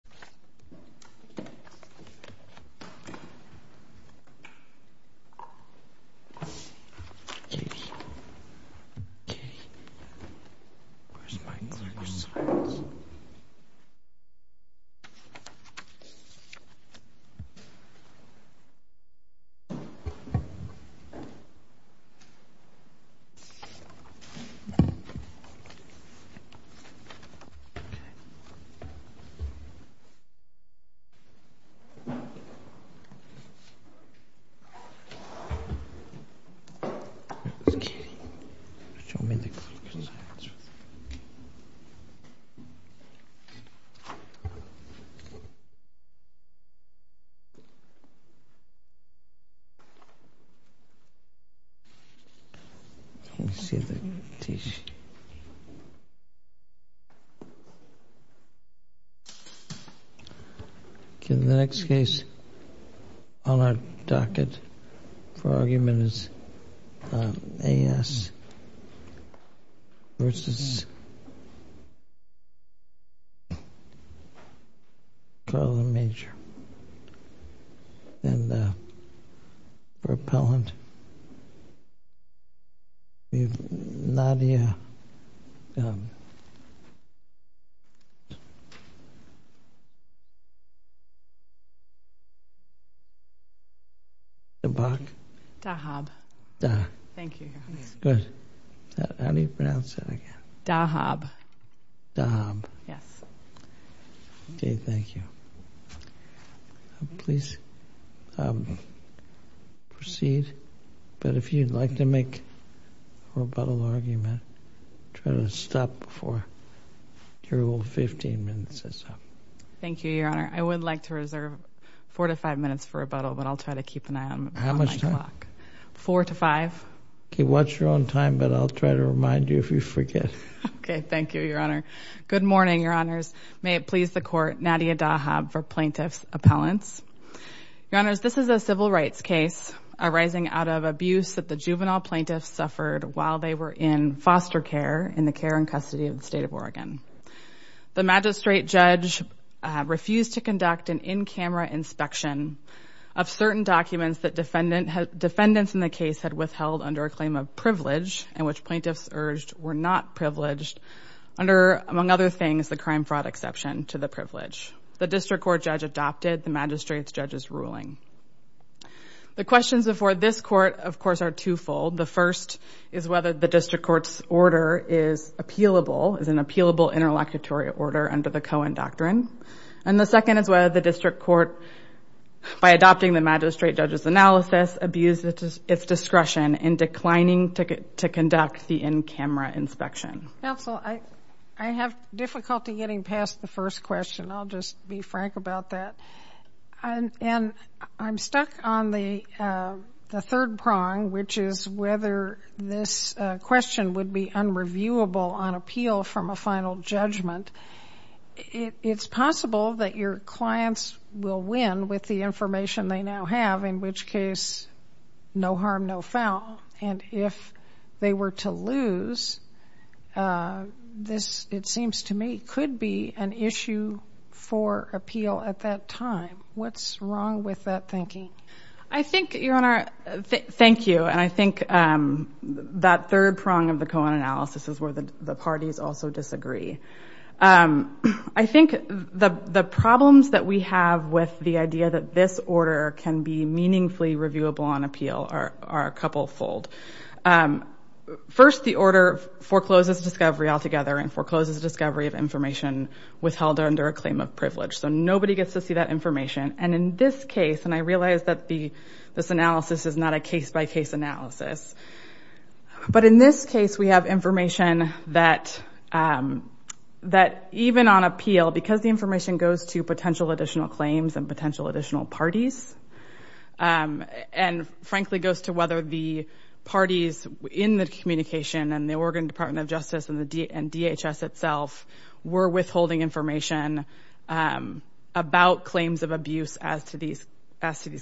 Why are you here? Okay. Okay. Show me the... Can you see the tissue? Okay. Okay, the next case on our docket for argument is A.S. versus Carlin Major and repellent Nadia Dabak Dabak? Dabak. How do you pronounce that again? Dabak. Dabak. Okay, thank you. Please proceed but if you'd like to make a rebuttal argument try to stop before your rule of 15 minutes is up. Thank you, Your Honor. I would like to reserve four to five minutes for rebuttal but I'll try to keep an eye on my clock. How much time? Four to five. Okay, watch your own time but I'll try to remind you if you forget. Okay, thank you, Your Honor. Good morning, Your Honors. May it please the Court, Nadia Dahab for Plaintiff's Appellants. Your Honors, this is a civil rights case arising out of abuse that the juvenile plaintiff suffered while they were in foster care in the care and custody of the State of Oregon. The magistrate judge refused to conduct an in-camera inspection of certain documents that defendants in the case had withheld under a claim of privilege in which plaintiffs urged were not privileged under, among other things, the crime fraud exception to the privilege. The District Court judge adopted the magistrate's judge's ruling. The questions before this Court, of course, are two-fold. The first is whether the District Court's order is appealable, is an appealable interlocutory order under the Cohen Doctrine. And the second is whether the District Court, by adopting the magistrate judge's analysis, abused its discretion in declining to conduct the in-camera inspection. Counsel, I have difficulty getting past the first question. I'll just be frank about that. I'm stuck on the third prong, which is whether this question would be unreviewable on appeal from a final judgment. It's possible that your clients will win with the information they now have, in which case no harm, no foul. And if they were to lose, this, it seems to me, could be an issue for appeal at that time. What's wrong with that thinking? I think, Your Honor, thank you, and I think that third prong of the Cohen analysis is where the parties also disagree. I think the problems that we have with the idea that this order can be meaningfully reviewable on appeal are a couple-fold. First, the order forecloses discovery altogether and forecloses discovery of information withheld under a claim of privilege. So nobody gets to see that information. And in this case, and I realize that this analysis is not a case-by-case analysis, but in this case, we have information that even on appeal, because the information goes to potential additional claims and potential additional parties, and frankly goes to whether the parties in the communication and the Oregon Department of Justice and DHS itself were withholding information about claims of abuse as to these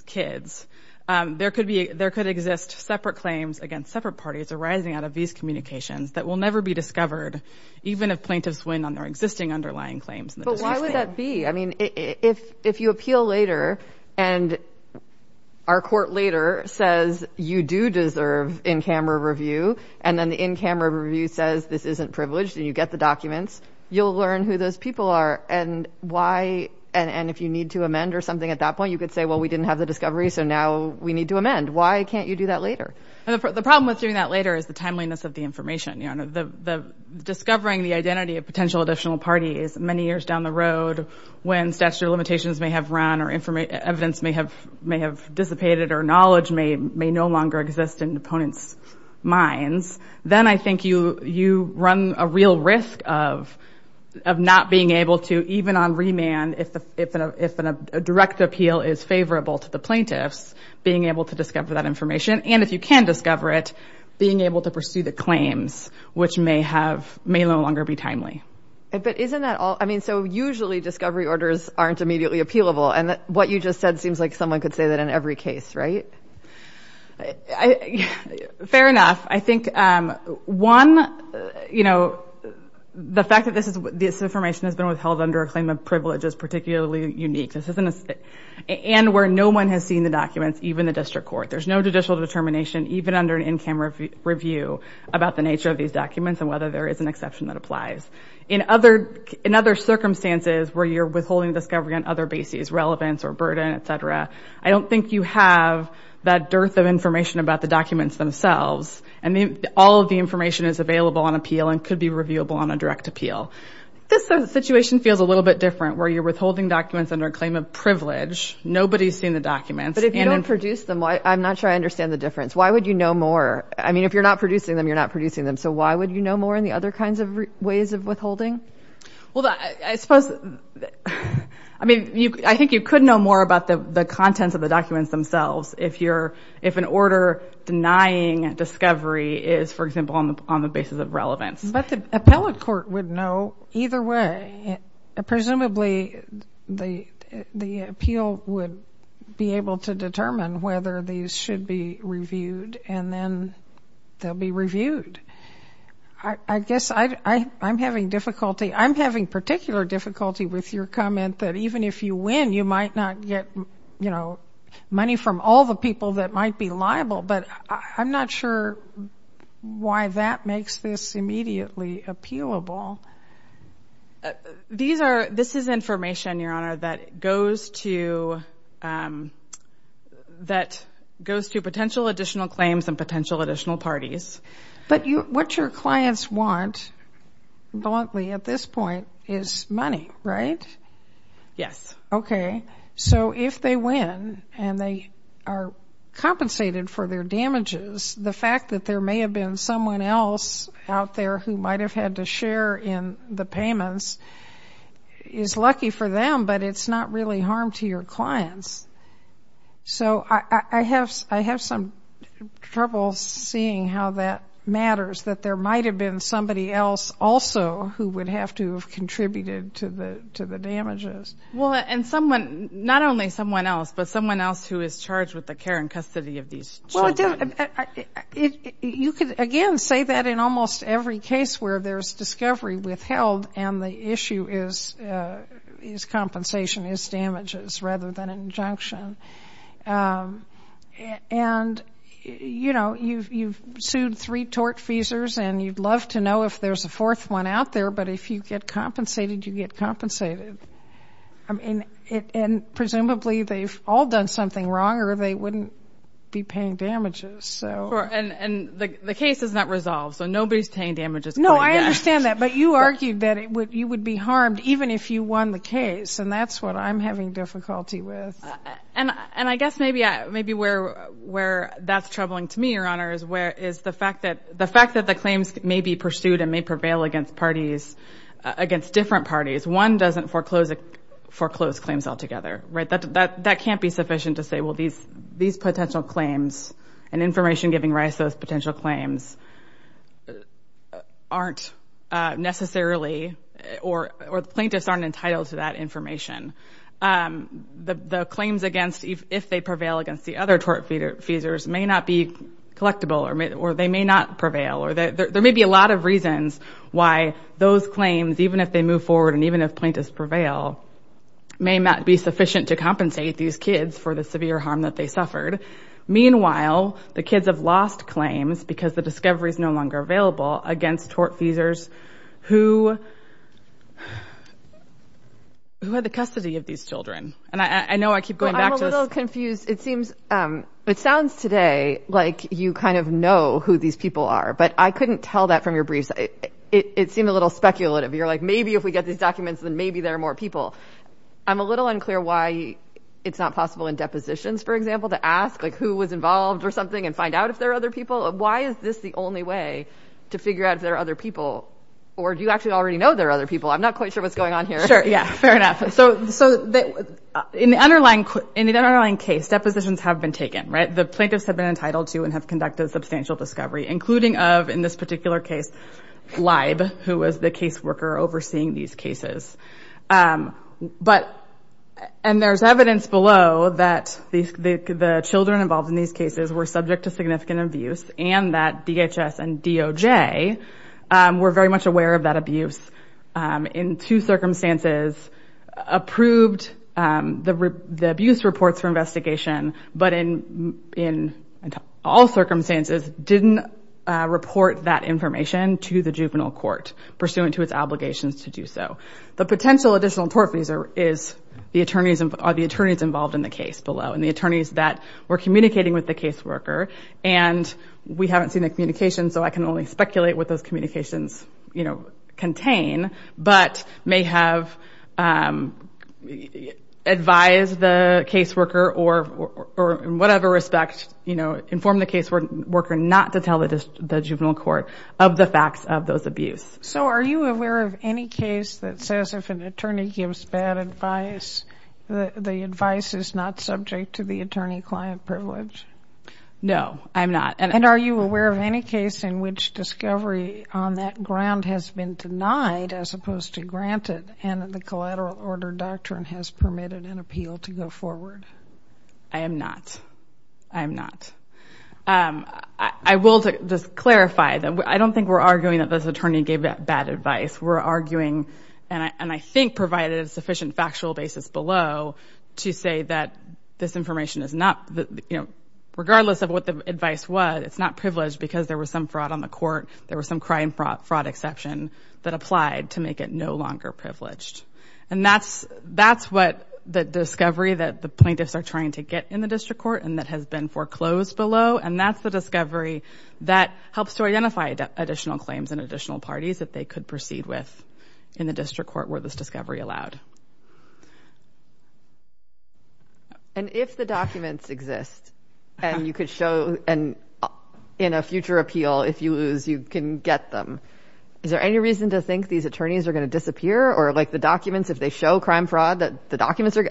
kids, there could exist separate claims against separate parties arising out of these communications that will never be discovered, even if plaintiffs win on their existing underlying claims. But why would that be? I mean, if you appeal later and our court later says you do deserve in-camera review, and then the in-camera review says this isn't privileged, and you get the documents, you'll learn who those people are, and why, and if you need to amend or something at that point, you could say, well, we didn't have the discovery, so now we need to amend. Why can't you do that later? The problem with doing that later is the timeliness of the information. Discovering the identity of potential additional parties many years down the road, when statutory limitations may have run, or evidence may have dissipated, or knowledge may no longer exist in opponents' minds, then I think you run a real risk of not being able to, even on remand, if a direct appeal is favorable to the plaintiffs, being able to discover that information, and if you can discover it, being able to pursue the claims, which may no longer be timely. But isn't that all? I mean, so usually discovery orders aren't immediately appealable, and what you just said seems like someone could say that in every case, right? Fair enough. I think, one, you know, the fact that this information has been withheld under a claim of privilege is particularly unique. And where no one has seen the documents, even the district court. There's no judicial determination, even under an in-camera review, about the nature of these documents and whether there is an exception that applies. In other circumstances where you're withholding discovery on other bases, relevance or burden, etc., I don't think you have that dearth of information about the documents themselves. And all of the information is available on appeal and could be reviewable on a direct appeal. This situation feels a little bit different, where you're withholding documents under a claim of privilege. Nobody's seen the documents. But if you don't produce them, I'm not sure I understand the difference. Why would you know more? I mean, if you're not producing them, you're not producing them. So why would you know more in the other kinds of ways of withholding? Well, I suppose I mean, I think you could know more about the contents of the documents themselves if an order denying discovery is, for example, on the basis of relevance. But the appellate court would know either way. Presumably the appeal would be able to determine whether these should be reviewed and then they'll be reviewed. I guess I'm having difficulty I'm having particular difficulty with your comment that even if you win, you might not get money from all the people that might be liable. But I'm not sure why that makes this immediately appealable. This is information, Your Honor, that goes to potential additional claims and potential additional parties. But what your clients want bluntly at this point is money, right? Yes. So if they win, and they are compensated for their damages, the fact that there may have been someone else out there who might have had to share in the payments is lucky for them, but it's not really harm to your clients. So I have some trouble seeing how that matters, that there might have been somebody else also who would have to have contributed to the damages. Not only someone else, but someone else who is charged with the care and custody of these children. You could, again, say that in almost every case where there's discovery withheld and the issue is compensation is damages rather than injunction. You've sued three tort feasers, and you'd love to know if there's a fourth one out there, but if you get compensated, you get compensated. Presumably, they've all done something wrong or they wouldn't be paying damages. The case is not resolved, so nobody's paying damages. No, I understand that, but you argued that you would be harmed even if you won the case, and that's what I'm having difficulty with. And I guess maybe where that's troubling to me, Your Honor, is the fact that the claims may be pursued and may prevail against parties, against different parties. One doesn't foreclose claims altogether. That can't be sufficient to say, well, these potential claims and information giving rise to those potential claims aren't necessarily, or the plaintiffs aren't entitled to that information. The claims against, if they prevail against the other tortfeasors may not be collectible, or they may not prevail. There may be a lot of reasons why those claims, even if they move forward and even if plaintiffs prevail, may not be sufficient to compensate these kids for the severe harm that they suffered. Meanwhile, the kids have lost claims because the discovery is no longer available against tortfeasors who had the custody of these children. And I know I keep going back to this. I'm confused. It sounds today like you kind of know who these people are, but I couldn't tell that from your briefs. It seemed a little speculative. You're like, maybe if we get these documents, then maybe there are more people. I'm a little unclear why it's not possible in depositions, for example, to ask who was involved or something and find out if there are other people. Why is this the only way to figure out if there are other people? Or do you actually already know there are other people? I'm not quite sure what's going on here. Sure, yeah. Fair enough. In the underlying case, depositions have been taken. The plaintiffs have been entitled to and have conducted substantial discovery, including of, in this particular case, Libe, who was the caseworker overseeing these cases. And there's evidence below that the children involved in these cases were subject to significant abuse and that DHS and DOJ were very much aware of that abuse and in two circumstances approved the abuse reports for investigation, but in all circumstances didn't report that information to the juvenile court pursuant to its obligations to do so. The potential additional tort fees are the attorneys involved in the case below and the attorneys that were communicating with the caseworker and we haven't seen the communications, so I can only speculate what those may have been, but may have advised the caseworker or in whatever respect informed the caseworker not to tell the juvenile court of the facts of those abuses. So are you aware of any case that says if an attorney gives bad advice, the advice is not subject to the attorney- client privilege? No, I'm not. And are you aware of any case in which discovery on that ground has been denied as opposed to granted and the collateral order doctrine has permitted an appeal to go forward? I am not. I am not. I will just clarify that I don't think we're arguing that this attorney gave bad advice. We're arguing and I think provided a sufficient factual basis below to say that this information is not, you know, regardless of what the advice was, it's not privileged because there was some fraud on the court, there was some crime fraud exception that applied to make it no longer privileged. And that's what the discovery that the plaintiffs are trying to get in the district court and that has been foreclosed below and that's the discovery that helps to identify additional claims and additional parties that they could proceed with in the district court where this discovery allowed. And if the documents exist and you could show in a future appeal if you lose, you can get them. Is there any reason to think these attorneys are going to disappear or like the documents if they show crime fraud, the documents are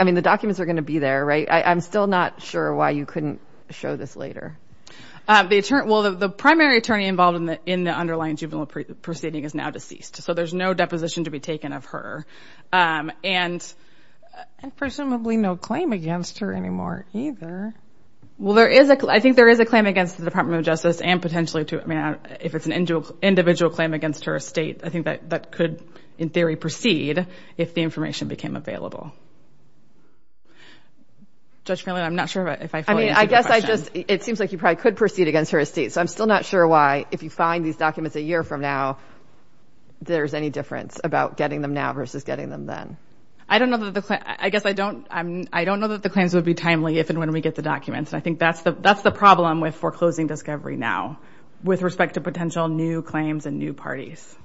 going to be there, right? I'm still not sure why you couldn't show this later. Well, the primary attorney involved in the underlying juvenile proceeding is now deceased so there's no deposition to be taken of her. And presumably no claim against her anymore either. I think there is a claim against the Department of Justice and potentially if it's an individual claim against her estate, I think that could in theory proceed if the information became available. Judge Finley, I'm not sure if I fully answered your question. It seems like you probably could proceed against her estate. So I'm still not sure why if you find these documents a year from now, there's any difference about getting them now versus getting them then. I guess I don't know that the claims would be timely if and when we get the documents. I think that's the problem with foreclosing discovery now with respect to potential new claims and new parties.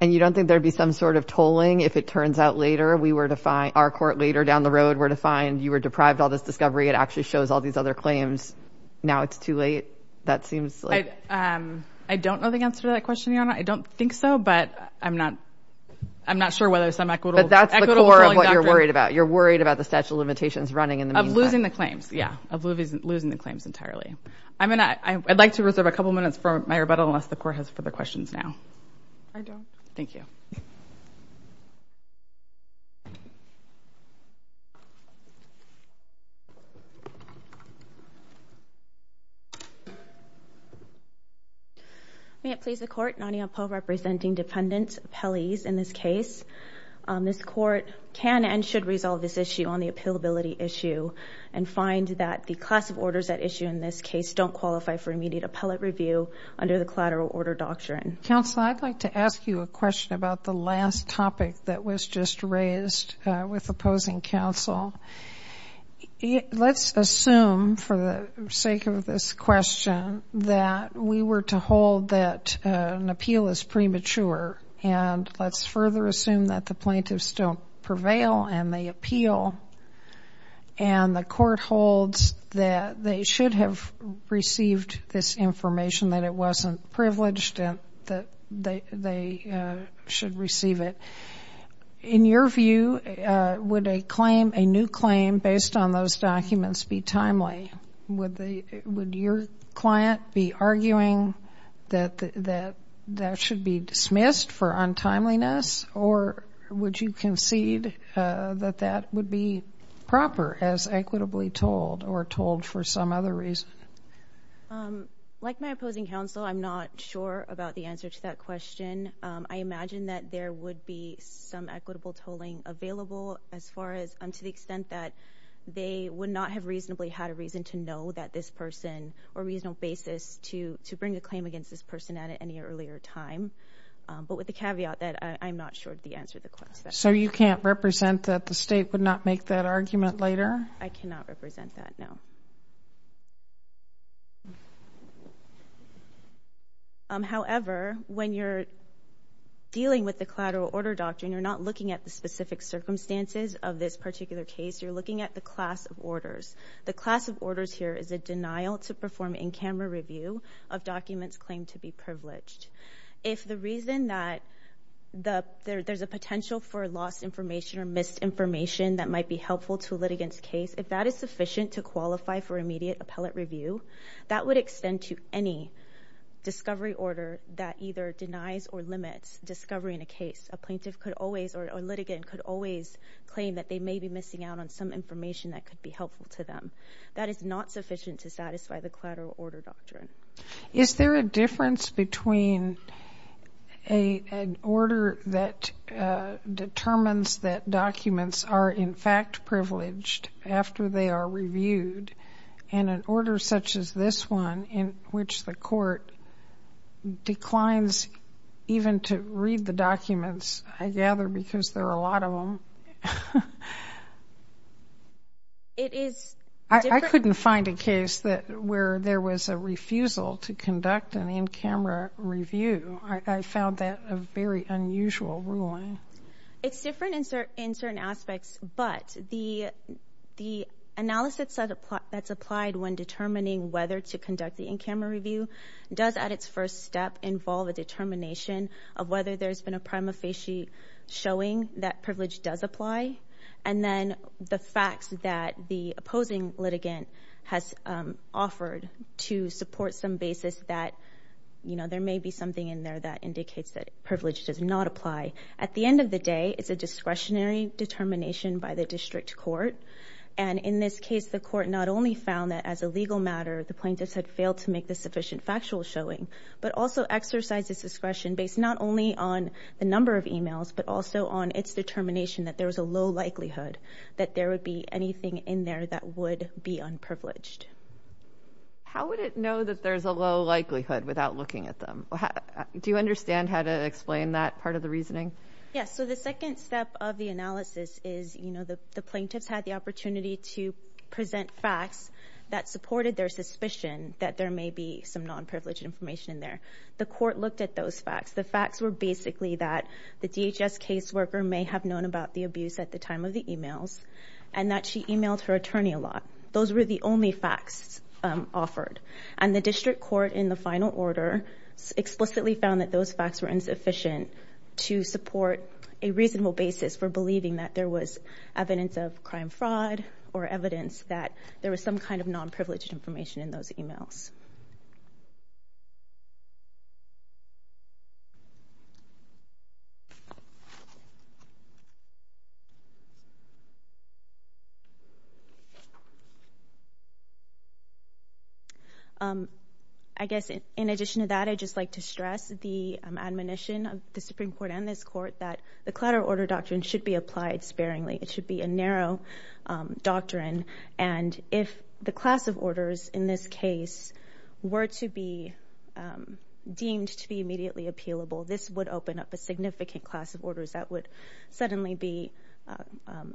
And you don't think there would be some sort of tolling if it turns out later our court later down the road were to find you were deprived of all this discovery, it actually shows all these other claims, now it's too late? That seems like... I don't know the answer to that question, Your Honor. I don't think so, but I'm not sure whether some equitable... But that's the core of what you're worried about. You're worried about the statute of limitations running in the meantime. Of losing the claims, yeah. Of losing the claims entirely. I'd like to reserve a couple minutes for my rebuttal unless the Court has further questions now. I don't. Thank you. May it please the Court, Nonia Poe representing dependent appellees in this case. This Court can and should resolve this issue on the appealability issue and find that the class of orders at issue in this case don't qualify for immediate appellate review under the collateral order doctrine. Counsel, I'd like to ask you a question about the last topic that was just raised with opposing counsel. Let's assume for the sake of this question that we were to hold that an appeal is premature and let's further assume that the plaintiffs don't prevail and they appeal and the Court holds that they should have received this information, that it wasn't privileged and that they should receive it. In your view, would a claim, a new claim, based on those documents be timely? Would your client be that that should be dismissed for untimeliness or would you concede that that would be proper as equitably told or told for some other reason? Like my opposing counsel, I'm not sure about the answer to that question. I imagine that there would be some equitable tolling available as far as to the extent that they would not have reasonably had a reason to know that this person or a reasonable basis to bring a claim against this person at any earlier time. But with the caveat that I'm not sure of the answer to the question. So you can't represent that the State would not make that argument later? I cannot represent that, no. However, when you're dealing with the collateral order doctrine, you're not looking at the specific circumstances of this particular case. You're looking at the class of orders. The class of orders here is a denial to perform in-camera review of documents claimed to be privileged. If the reason that there's a potential for lost information or missed information that might be helpful to a litigant's case, if that is sufficient to qualify for immediate appellate review, that would extend to any discovery order that either denies or limits discovery in a case. A plaintiff could always or a litigant could always claim that they may be missing out on some information that could be sufficient to satisfy the collateral order doctrine. Is there a difference between an order that determines that documents are in fact privileged after they are reviewed and an order such as this one in which the court declines even to read the documents, I gather, because there are a lot of them? I couldn't find a case where there was a refusal to conduct an in-camera review. I found that a very unusual ruling. It's different in certain aspects, but the analysis that's applied when determining whether to conduct the in-camera review does at its first step involve a determination of whether there's been a prima facie showing that privilege does apply and then the facts that the opposing litigant has offered to support some basis that there may be something in there that indicates that privilege does not apply. At the end of the day, it's a discretionary determination by the district court and in this case, the court not only found that as a legal matter the plaintiffs had failed to make the sufficient factual showing, but also exercised this discretion based not only on the number of emails, but also on its determination that there was a low likelihood that there would be anything in there that would be unprivileged. How would it know that there's a low likelihood without looking at them? Do you understand how to explain that part of the reasoning? Yes, so the second step of the analysis is the plaintiffs had the opportunity to present facts that supported their suspicion that there may be some non-privileged information in there. The court looked at those facts. The facts were basically that the DHS caseworker may have known about the abuse at the time of the emails, and that she emailed her attorney a lot. Those were the only facts offered. And the district court in the final order explicitly found that those facts were insufficient to support a reasonable basis for believing that there was evidence of crime fraud or evidence that there was some kind of non-privileged information in those emails................ I guess in addition to that I'd just like to stress the admonition of the Supreme Court and this court that the Clutter Order Doctrine should be applied sparingly. It should be a narrow doctrine, and if the class of orders in this case were to be deemed to be immediately appealable, this would open up a significant class of orders that would suddenly be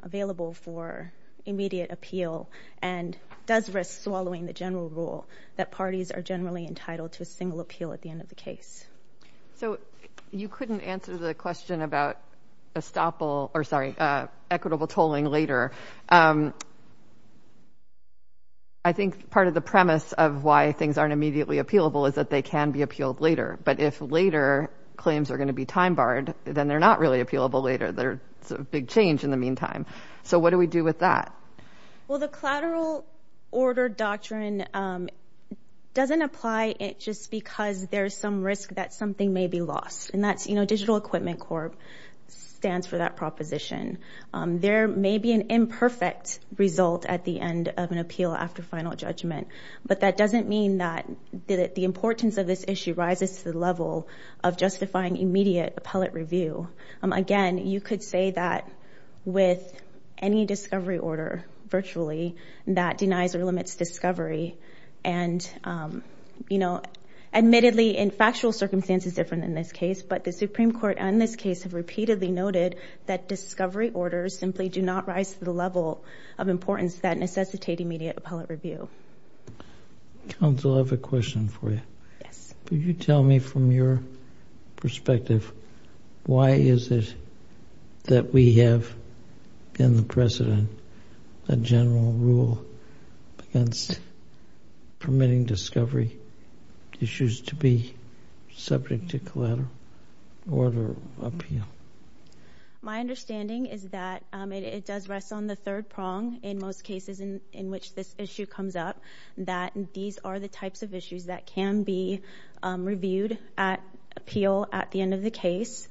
available for immediate appeal and does risk swallowing the general rule that parties are generally entitled to a single appeal at the end of the case...................... I think part of the premise of why things aren't immediately appealable is that they can be appealed later, but if later claims are going to be time-barred then they're not really appealable later. It's a big change in the meantime. So what do we do with that? Well, the Clutter Order Doctrine doesn't apply just because there's some risk that something may be lost. Digital Equipment Corp stands for that proposition. There may be an imperfect result at the end of an appeal after final judgment, but that doesn't mean that the importance of this issue rises to the level of justifying immediate appellate review. Again, you could say that with any discovery order virtually that denies or limits discovery and you know, admittedly in factual circumstances different than this case, but the Supreme Court and this case have repeatedly noted that discovery orders simply do not rise to the level of importance that necessitate immediate appellate review. Counsel, I have a question for you. Could you tell me from your perspective why is it that we have in the precedent a general rule against permitting discovery issues to be subject to collateral order appeal? My understanding is that it does rest on the third prong in most cases in which this issue comes up. These are the types of issues that can be reviewed at appeal at the end of the case.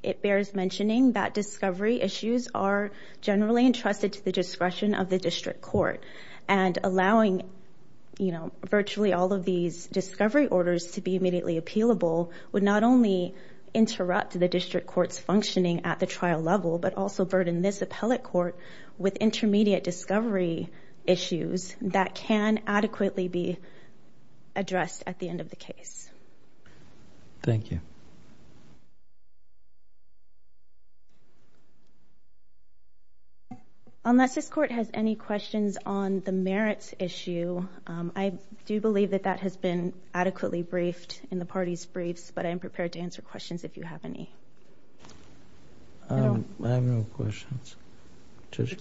It bears mentioning that discovery issues are generally entrusted to the discretion of the district court and allowing virtually all of these discovery orders to be immediately appealable would not only interrupt the district court's functioning at the trial level but also burden this appellate court with intermediate discovery issues that can adequately be addressed at the end of the case. Thank you. Unless this court has any questions on the merits issue, I do believe that that has been adequately briefed in the party's briefs, but I am prepared to answer questions if you have any. I have no questions.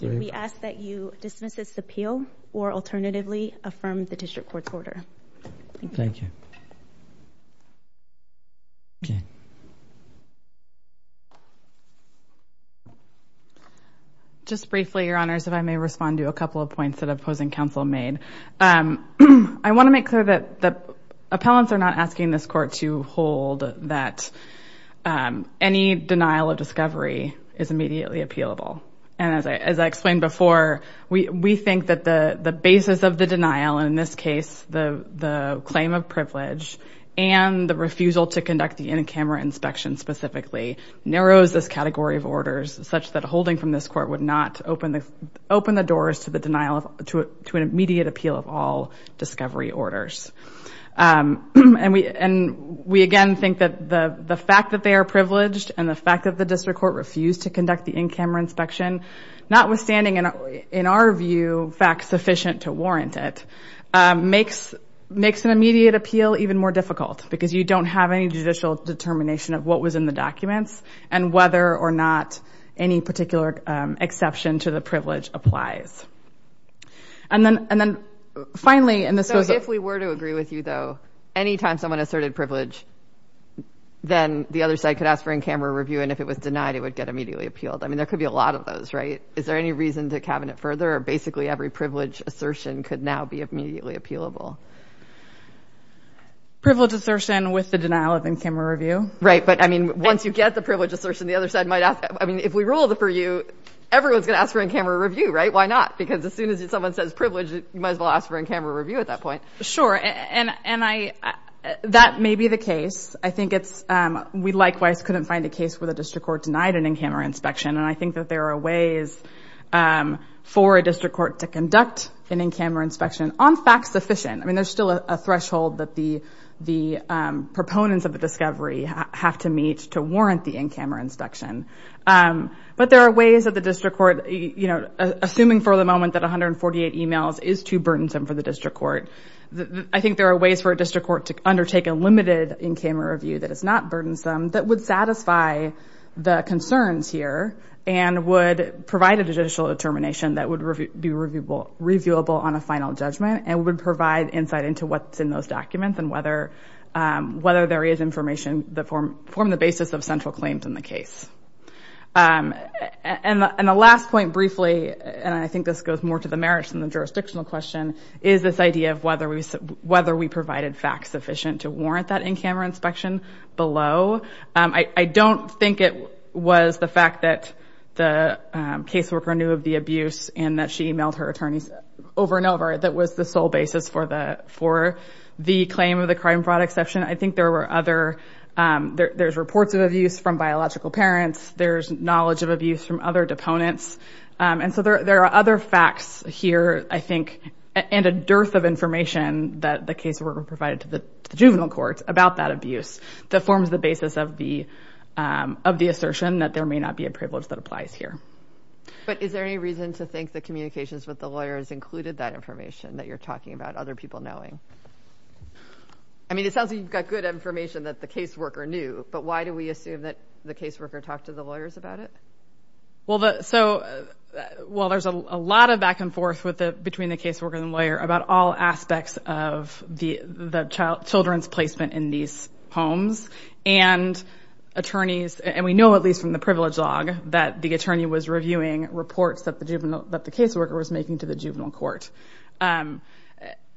We ask that you dismiss this appeal or alternatively affirm the district court's order. Thank you. Just briefly, Your Honors, if I may respond to a couple of points that opposing counsel made. I want to make clear that the appellants are not asking this court to hold that any denial of discovery is immediately appealable. As I explained before, we think that the basis of the denial, in this case, the claim of privilege and the refusal to conduct the in-camera inspection specifically, narrows this category of orders such that holding from this court would not open the doors to an immediate appeal of all discovery orders. We again think that the fact that they are privileged and the fact that the district court refused to conduct the in-camera inspection, notwithstanding in our view, facts sufficient to warrant it, makes an immediate appeal even more difficult because you don't have any judicial determination of what was in the documents and whether or not any particular exception to the privilege applies. If we were to agree with you, though, any time someone asserted privilege, then the other side could ask for in-camera review and if it was denied, it would get immediately appealed. There could be a lot of those, right? Is there any reason to cabinet further or basically every privilege assertion could now be immediately appealable? Privilege assertion with the denial of in-camera review. Right, but once you get the rule for you, everyone's going to ask for in-camera review, right? Why not? Because as soon as someone says privilege, you might as well ask for in-camera review at that point. Sure, and that may be the case. I think it's, we likewise couldn't find a case where the district court denied an in-camera inspection and I think that there are ways for a district court to conduct an in-camera inspection on facts sufficient. I mean, there's still a threshold that the proponents of the discovery have to meet to warrant the in-camera inspection. But there are ways that the district court, assuming for the moment that 148 emails is too burdensome for the district court, I think there are ways for a district court to undertake a limited in-camera review that is not burdensome that would satisfy the concerns here and would provide additional determination that would be reviewable on a final judgment and would provide insight into what's in those documents and whether there is information that form the basis of central claims in the case. And the last point, briefly, and I think this goes more to the merits than the jurisdictional question, is this idea of whether we provided facts sufficient to warrant that in-camera inspection below. I don't think it was the fact that the caseworker knew of the abuse and that she emailed her attorneys over and over that was the sole basis for the claim of the crime fraud exception, I think there were other there's reports of abuse from biological parents, there's knowledge of abuse from other deponents, and so there are other facts here I think, and a dearth of information that the caseworker provided to the juvenile courts about that abuse that forms the basis of the assertion that there may not be a privilege that applies here. But is there any reason to think the communications with the lawyers included that information that you're talking about other people knowing? I mean it sounds like you've got good information that the caseworker knew, but why do we assume that the caseworker talked to the lawyers about it? Well the, so well there's a lot of back and forth between the caseworker and the lawyer about all aspects of the children's placement in these homes, and attorneys, and we know at least from the privilege log that the attorney was reviewing reports that the juvenile, that the caseworker was making to the juvenile court.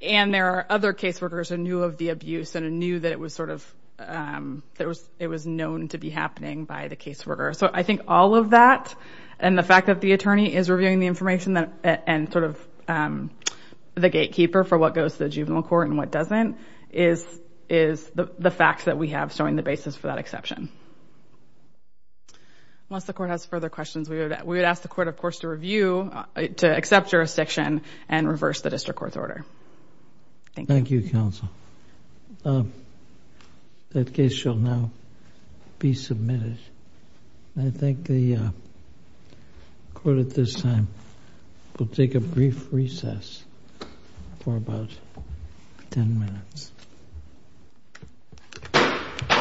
And there are other caseworkers who knew of the abuse and knew that it was sort of it was known to be happening by the caseworker. So I think all of that, and the fact that the attorney is reviewing the information and sort of the gatekeeper for what goes to the juvenile court and what doesn't is the facts that we have showing the basis for that exception. Unless the court has further questions we would ask the court of course to review to accept jurisdiction and reverse the district court's order. Thank you. Thank you counsel. That case shall now be submitted. I think the court at this time will take a brief recess for about 10 minutes.